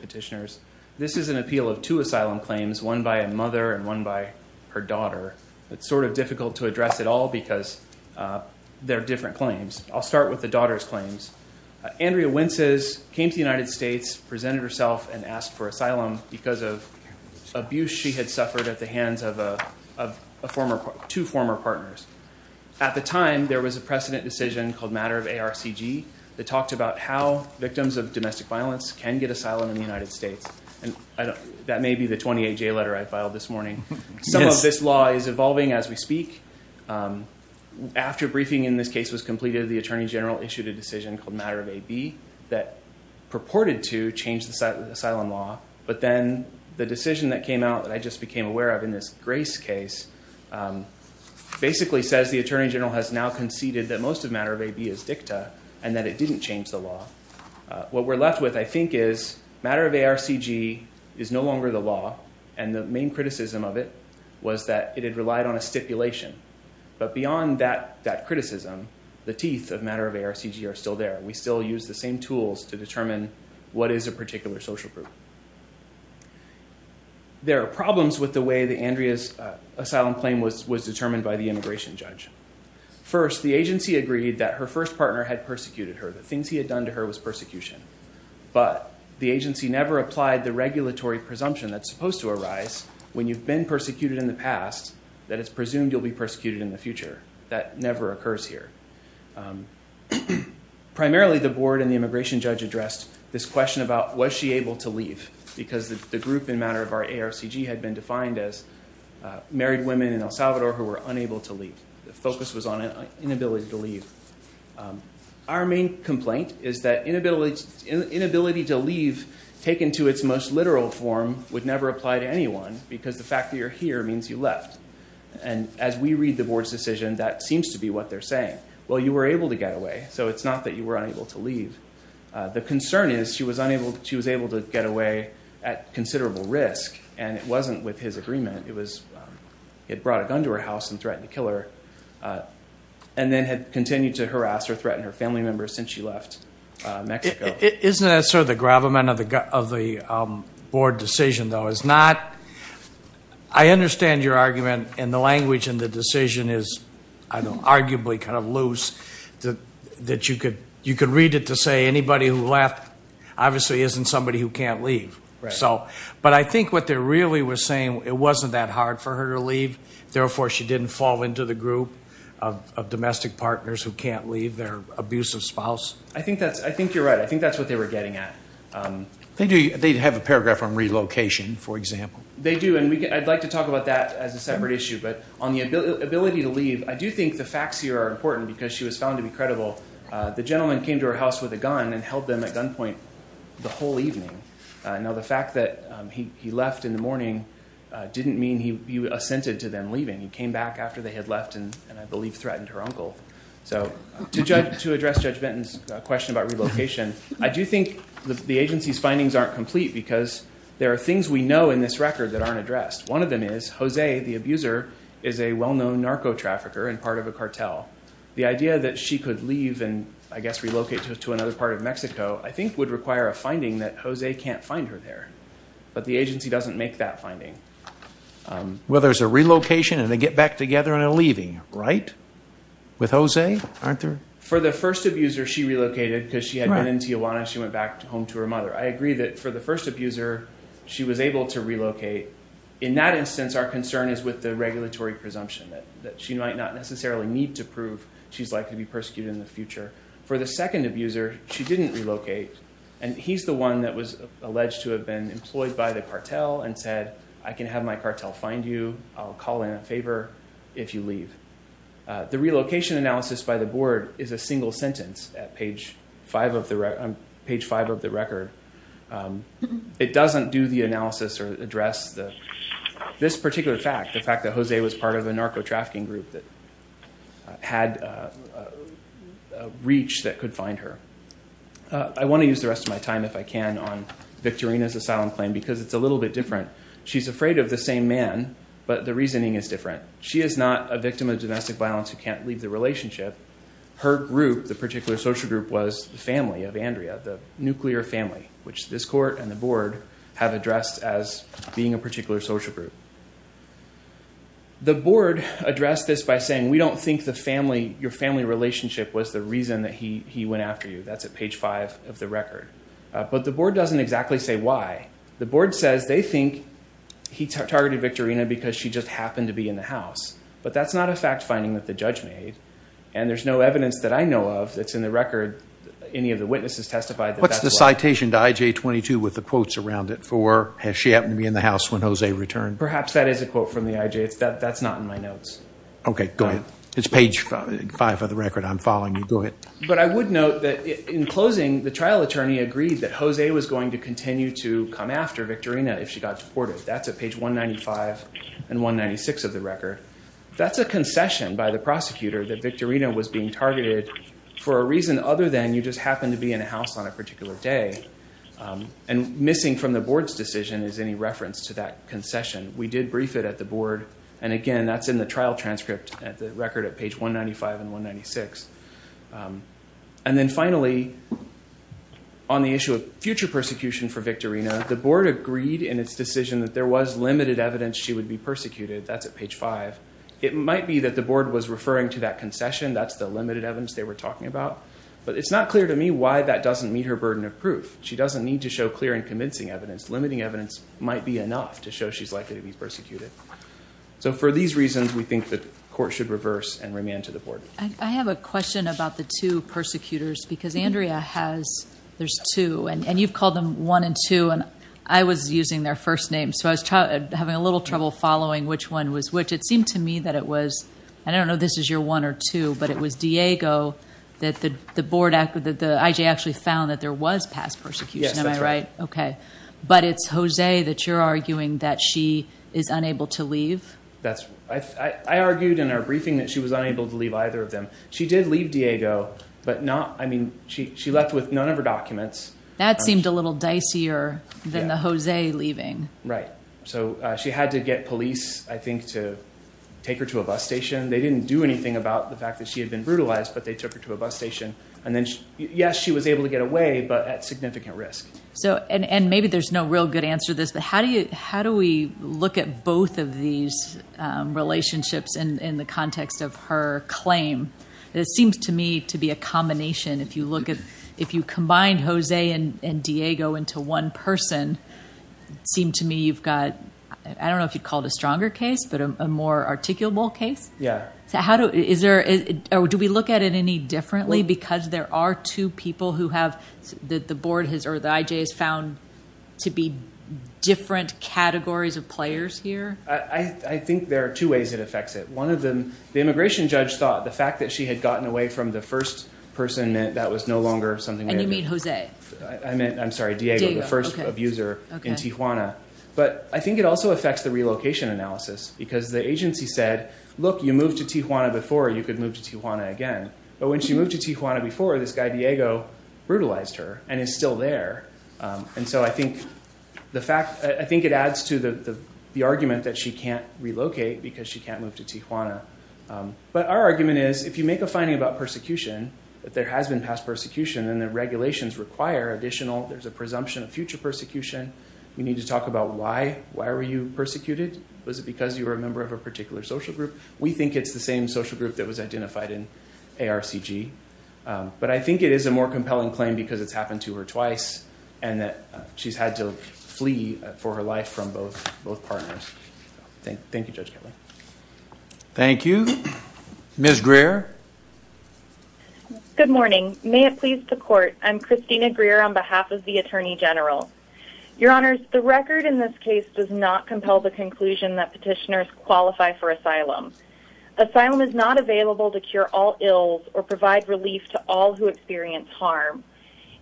petitioners. This is an appeal of two asylum claims, one by a mother and one by her daughter. It's sort of difficult to address it all because they're different claims. I'll start with the daughter's claims. Andrea Wences came to the United States, presented herself, and asked for asylum because of abuse she had suffered at the hands of two former partners. At the time, there was a precedent decision called Matter of ARCG that talked about how people with domestic violence can get asylum in the United States. That may be the 28-J letter I filed this morning. Some of this law is evolving as we speak. After a briefing in this case was completed, the Attorney General issued a decision called Matter of AB that purported to change the asylum law, but then the decision that came out that I just became aware of in this Grace case basically says the Attorney General has now conceded that most of Matter of AB is dicta and that it didn't change the law. What we're left with, I think, is Matter of ARCG is no longer the law, and the main criticism of it was that it had relied on a stipulation. But beyond that criticism, the teeth of Matter of ARCG are still there. We still use the same tools to determine what is a particular social group. There are problems with the way that Andrea's First, the agency agreed that her first partner had persecuted her. The things he had done to her was persecution. But the agency never applied the regulatory presumption that's supposed to arise when you've been persecuted in the past that it's presumed you'll be persecuted in the future. That never occurs here. Primarily, the board and the immigration judge addressed this question about was she able to leave because the group in Matter of ARCG had been defined as married women in El Salvador who were unable to leave. The focus was on inability to leave. Our main complaint is that inability to leave, taken to its most literal form, would never apply to anyone because the fact that you're here means you left. And as we read the board's decision, that seems to be what they're saying. Well, you were able to get away, so it's not that you were unable to leave. The concern is she was able to get away at considerable risk, and it wasn't with his agreement. He had brought a gun to her house and threatened to kill her and then had continued to harass or threaten her family members since she left Mexico. Isn't that sort of the gravamen of the board decision, though? I understand your argument, and the language in the decision is arguably kind of loose, that you could read it to say anybody who left obviously isn't somebody who can't leave. But I think what they really were saying, it wasn't that hard for her to leave, therefore she didn't fall into the group of domestic partners who can't leave their abusive spouse. I think you're right. I think that's what they were getting at. They have a paragraph on relocation, for example. They do, and I'd like to talk about that as a separate issue. But on the ability to leave, I do think the facts here are important because she was found to be credible. The gentleman came to her house with a gun and held them at gunpoint the whole evening. Now the fact that he left in the morning didn't mean he assented to them leaving. He came back after they had left and I believe threatened her uncle. So to address Judge Benton's question about relocation, I do think the agency's findings aren't complete because there are things we know in this record that aren't addressed. One of them is Jose, the abuser, is a well-known narco trafficker and part of a cartel. The idea that she could leave and, I guess, relocate to another part of Mexico, I think, would require a finding that Jose can't find her there. But the agency doesn't make that finding. Well, there's a relocation and a get-back-together and a leaving, right? With Jose? For the first abuser, she relocated because she had been in Tijuana. She went back home to her mother. I agree that for the first abuser, she was able to relocate. In that instance, our concern is with the regulatory presumption, that she might not necessarily need to prove she's likely to be persecuted in the future. For the second abuser, she didn't relocate and he's the one that was alleged to have been employed by the cartel and said, I can have my cartel find you. I'll call in a favor if you leave. The relocation analysis by the board is a single sentence at page five of the record. It doesn't do the analysis or address this particular fact, the fact that Jose was part of a narco-trafficking group that had a reach that could find her. I want to use the rest of my time, if I can, on Victorina's asylum claim because it's a little bit different. She's afraid of the same man, but the reasoning is different. She is not a victim of domestic violence who can't leave the relationship. Her group, the particular social group, was the family of Andrea, the nuclear family, which this court and the board have addressed as being a particular social group. The board addressed this by saying, we don't think your family relationship was the reason that he went after you. That's at page five of the record. But the board doesn't exactly say why. The board says they think he targeted Victorina because she just happened to be in the house. But that's not a fact finding that the judge made, and there's no evidence that I know of that's in the record, any of the witnesses testified that that's what happened. What's the citation to IJ 22 with the quotes around it for, has she happened to be in the return? Perhaps that is a quote from the IJ. That's not in my notes. Okay, go ahead. It's page five of the record. I'm following you. Go ahead. But I would note that in closing, the trial attorney agreed that Jose was going to continue to come after Victorina if she got deported. That's at page 195 and 196 of the record. That's a concession by the prosecutor that Victorina was being targeted for a reason other than you just happened to be in a house on a particular day. And missing from the concession. We did brief it at the board. And again, that's in the trial transcript at the record at page 195 and 196. And then finally, on the issue of future persecution for Victorina, the board agreed in its decision that there was limited evidence she would be persecuted. That's at page five. It might be that the board was referring to that concession. That's the limited evidence they were talking about. But it's not clear to me why that doesn't meet her burden of proof. She doesn't need to show clear and convincing evidence. Limiting evidence might not be enough to show she's likely to be persecuted. So for these reasons, we think the court should reverse and remand to the board. I have a question about the two persecutors. Because Andrea has, there's two. And you've called them one and two. And I was using their first names. So I was having a little trouble following which one was which. It seemed to me that it was, I don't know if this is your one or two, but it was Diego that the board, that the IJ actually found that there was past persecution, am I right? Yes, that's right. Okay. But it's Jose that you're arguing that she is unable to leave? I argued in our briefing that she was unable to leave either of them. She did leave Diego, but not, I mean, she left with none of her documents. That seemed a little dicier than the Jose leaving. Right. So she had to get police, I think, to take her to a bus station. They didn't do anything about the fact that she had been brutalized, but they took her to a bus station. And then, yes, she was able to get away, but at significant risk. So, and maybe there's no real good answer to this, but how do you, how do we look at both of these relationships in the context of her claim? It seems to me to be a combination. If you look at, if you combine Jose and Diego into one person, it seemed to me you've got, I don't know if you'd call it a stronger case, but a more articulable case? Yeah. So how do, is there, or do we look at it any differently? Because there are two people who have, that the board has, or the IJ has found to be different categories of players here? I think there are two ways it affects it. One of them, the immigration judge thought the fact that she had gotten away from the first person meant that was no longer something And you mean Jose? I meant, I'm sorry, Diego, the first abuser in Tijuana. But I think it also affects the relocation analysis, because the agency said, look, you moved to Tijuana before, you could move to Tijuana again. But when she moved to Tijuana before, this guy Diego brutalized her and is still there. And so I think the fact, I think it adds to the argument that she can't relocate because she can't move to Tijuana. But our argument is, if you make a finding about persecution, that there has been past persecution, then the regulations require additional, there's a presumption of future persecution. We need to talk about why, why were you persecuted? Was it because you were a member of a particular social group? We think it's the same social group that was identified in ARCG. But I think it is a more compelling claim because it's happened to her twice and that she's had to flee for her life from both partners. Thank you, Judge Kelly. Thank you. Ms. Greer. Good morning. May it please the court. I'm Christina Greer on behalf of the attorney general. Your honors, the record in this case does not compel the conclusion that petitioners qualify for asylum. Asylum is not available to cure all ills or provide relief to all who experience harm.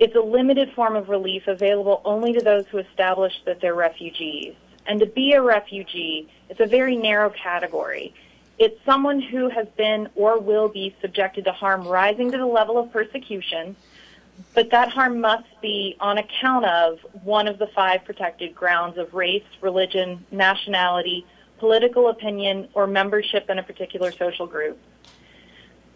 It's a limited form of relief available only to those who establish that they're refugees. And to be a refugee, it's a very narrow category. It's someone who has been or will be subjected to harm rising to the level of persecution, but that harm must be on account of one of the five protected grounds of race, religion, nationality, political opinion, or membership in a particular social group.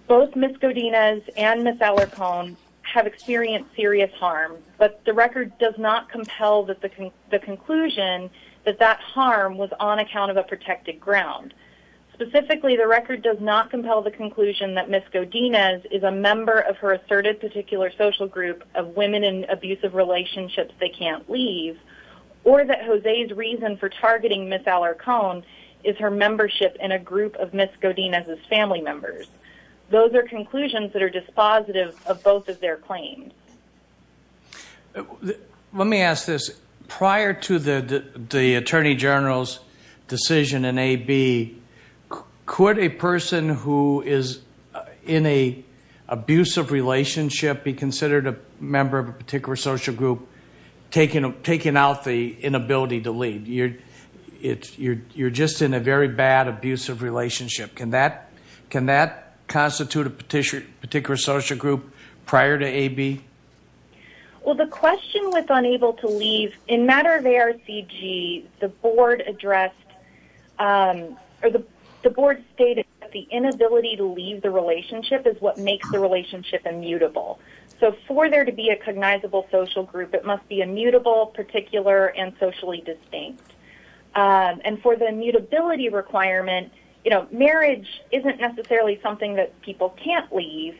Both Ms. Godinez and Ms. Alarcon have experienced serious harm, but the record does not compel the conclusion that that harm was on account of a protected ground. Specifically, the record does not compel the conclusion that Ms. Godinez is a member of her asserted particular social group of women in abusive membership in a group of Ms. Godinez's family members. Those are conclusions that are dispositive of both of their claims. Let me ask this. Prior to the attorney general's decision in AB, could a person who is in an abusive relationship be considered a member of a particular social group, taking out the inability to leave? You're just in a very bad, abusive relationship. Can that constitute a particular social group prior to AB? Well, the question with unable to leave, in matter of ARCG, the board stated that the inability to leave the relationship is what makes the relationship immutable. So for there to be a cognizable social group, it must be immutable, particular, and socially distinct. And for the immutability requirement, marriage isn't necessarily something that people can't leave,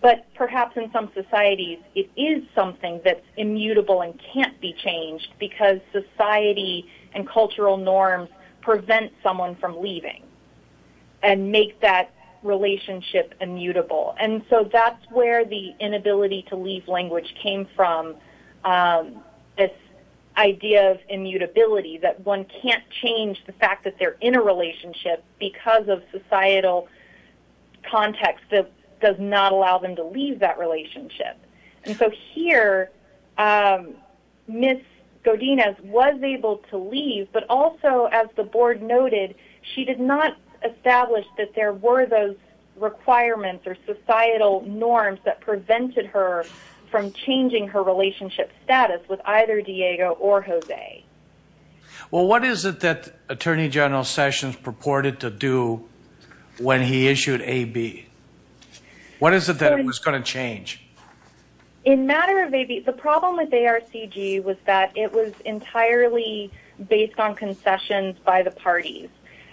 but perhaps in some societies it is something that's immutable and can't be changed because society and cultural norms prevent someone from leaving and make that relationship immutable. And so that's where the inability to leave language came from, this idea of immutability, that one can't change the fact that they're in a relationship because of societal context that does not allow them to leave that relationship. And so here, Ms. Godinez was able to leave, but also, as the board noted, she did not have any requirements or societal norms that prevented her from changing her relationship status with either Diego or Jose. Well, what is it that Attorney General Sessions purported to do when he issued AB? What is it that was going to change? In matter of AB, the problem with ARCG was that it was entirely based on concessions by the parties.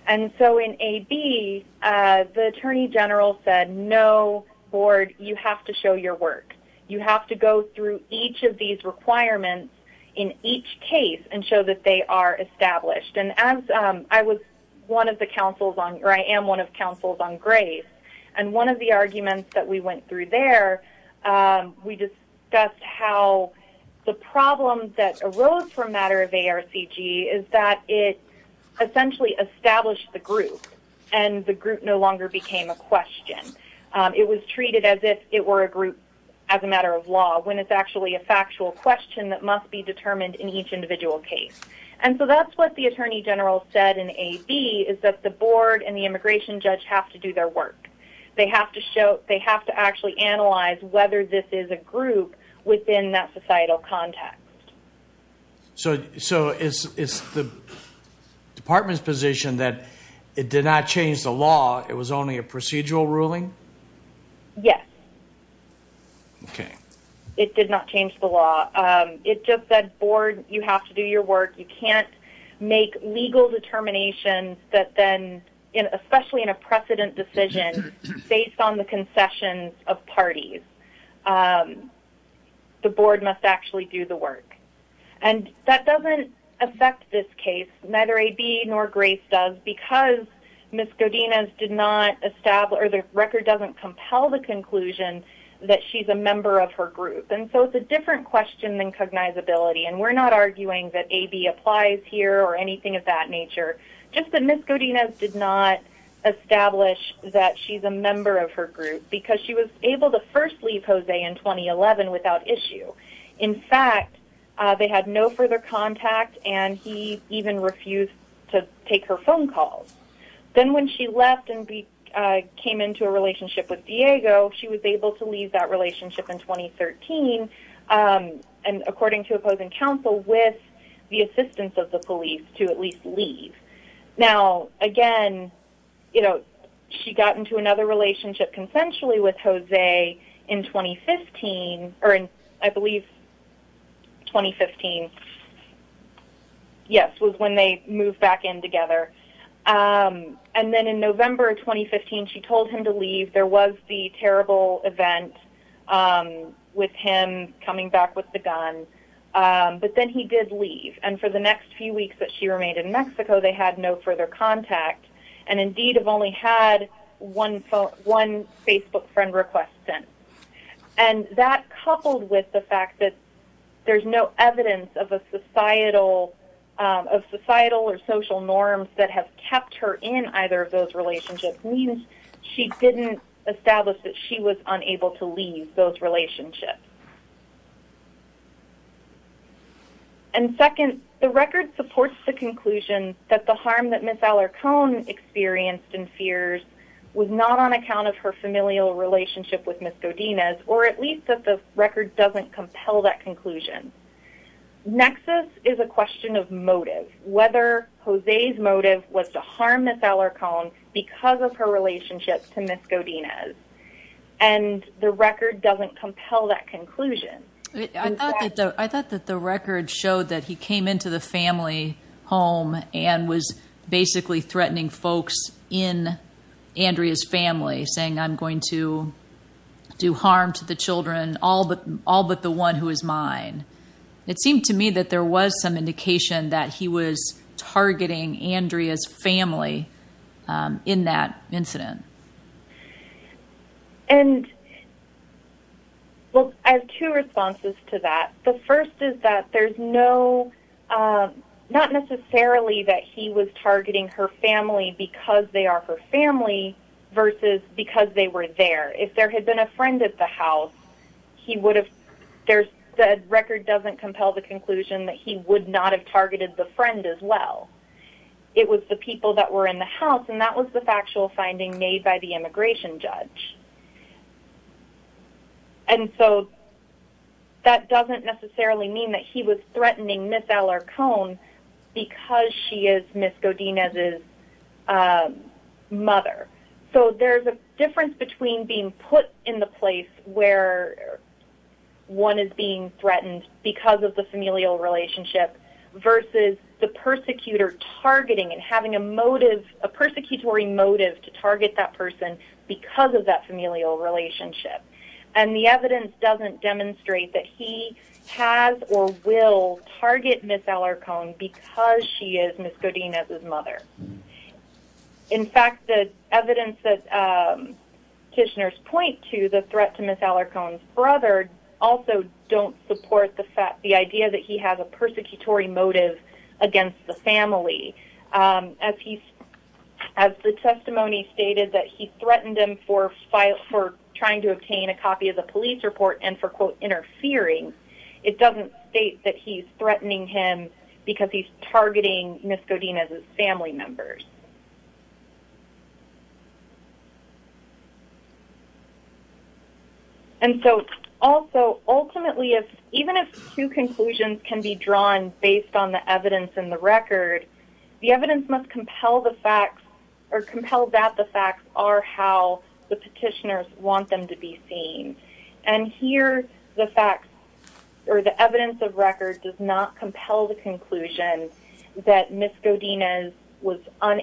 And so in AB, the Attorney General said, no, board, you have to show your work. You have to go through each of these requirements in each case and show that they are established. And as I was one of the counsels on, or I am one of the counsels on grace, and one of the arguments that we went through there, we discussed how the problem that arose for a matter of ARCG is that it essentially established the group, and the group no longer became a question. It was treated as if it were a group as a matter of law, when it's actually a factual question that must be determined in each individual case. And so that's what the Attorney General said in AB, is that the board and the immigration judge have to do their work. They have to actually analyze whether this is a group within that societal context. So is the department's position that it did not change the law, it was only a procedural ruling? Yes. Okay. It did not change the law. It just said, board, you have to do your work. You can't make legal determinations that then, especially in a precedent decision, based on the concessions of parties. The board must actually do the work. And that doesn't affect this case, neither AB nor grace does, because Ms. Godinez did not establish, or the record doesn't compel the conclusion that she's a member of her group. And so it's a different question than cognizability, and we're not arguing that AB applies here, or anything of that nature. Just that Ms. Godinez did not establish that she's a member of her group, because she was able to first leave Jose in 2011 without issue. In fact, they had no further contact, and he even refused to take her phone calls. Then when she left and came into a relationship with Diego, she was able to leave that relationship in 2013, and according to opposing counsel, with the assistance of the police, to at least leave. Now, again, she got into another relationship consensually with Jose in 2015, or in, I believe, 2015. Yes, was when they moved back in together. And then in November 2015, she told him to leave. There was the terrible event with him coming back with the gun. But then he did leave, and for the next few weeks that she remained in Mexico, they had no further contact, and indeed have only had one Facebook friend request since. And that, coupled with the fact that there's no evidence of societal or social norms that have kept her in either of those relationships, means she didn't establish that she was unable to leave those relationships. And second, the record supports the conclusion that the harm that Ms. Alarcon experienced and fears was not on account of her familial relationship with Ms. Godinez, or at least that the record doesn't compel that conclusion. Nexus is a question of motive, whether Jose's motive was to harm Ms. Alarcon because of her relationship to Ms. Godinez. And the record doesn't compel that conclusion. I thought that the record showed that he came into the family home and was basically threatening folks in Andrea's family, saying, I'm going to do harm to the children, all but the one who is mine. It seemed to me that there was some indication that he was targeting Andrea's family in that incident. And, well, I have two responses to that. The first is that there's no, not necessarily that he was targeting her family because they are her family versus because they were there. If there had been a friend at the house, he would have, the record doesn't compel the conclusion that he would not have targeted the friend as well. It was the people that were in the house, and that was the factual finding made by the immigration judge. And so that doesn't necessarily mean that he was threatening Ms. Alarcon because she is Ms. Godinez's mother. So there's a difference between being put in the place where one is being threatened because of the familial relationship versus the persecutor targeting and having a motive, a persecutory motive to target that person because of that familial relationship. And the evidence doesn't demonstrate that he has or will target Ms. Alarcon because she is Ms. Godinez's mother. In fact, the evidence that Kishner's point to, the threat to Ms. Alarcon's brother, also don't support the idea that he has a persecutory motive against the family. As the testimony stated that he threatened him for trying to obtain a copy of the police report and for quote, interfering, it doesn't state that he's threatening him because he's targeting Ms. Godinez's family members. And so also, ultimately, even if two conclusions can be drawn based on the evidence and the record, the evidence must compel the facts or compel that the facts are how the petitioners want them to be seen. And here the facts or the evidence of record does not compel the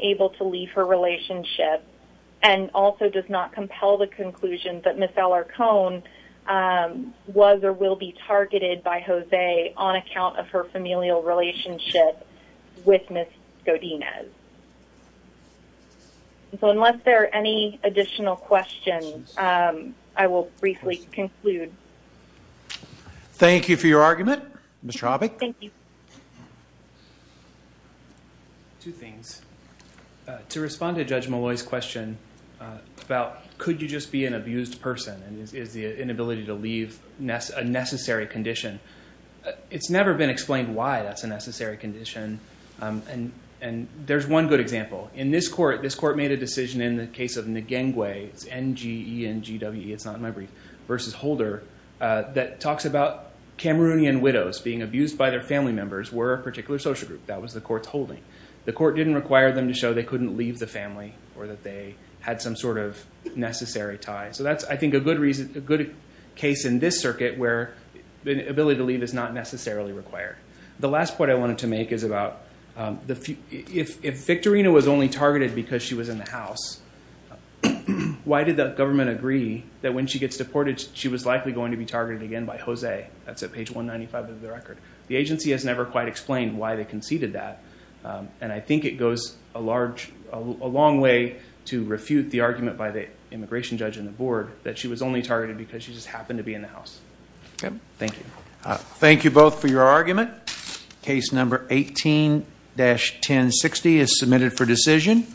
able to leave her relationship and also does not compel the conclusion that Ms. Alarcon was or will be targeted by Jose on account of her familial relationship with Ms. Godinez. So unless there are any additional questions, I will briefly conclude. Thank you for your argument, Ms. Tropic. Thank you. Two things. To respond to Judge Malloy's question about could you just be an abused person and is the inability to leave a necessary condition, it's never been explained why that's a necessary condition. And there's one good example. In this court, this court made a decision in the case of Ngengwe, it's N-G-E-N-G-W-E, it's not in my brief, versus Holder, that Holders were a particular social group. That was the court's holding. The court didn't require them to show they couldn't leave the family or that they had some sort of necessary tie. So that's I think a good reason, a good case in this circuit where the ability to leave is not necessarily required. The last point I wanted to make is about if Victorina was only targeted because she was in the house, why did the government agree that when she gets deported, she was likely going to be targeted again by Jose? That's at page 195 of the record. The agency has never quite explained why they conceded that and I think it goes a long way to refute the argument by the immigration judge and the board that she was only targeted because she just happened to be in the house. Thank you. Thank you both for your argument. Case number 18-1060 is submitted for decision.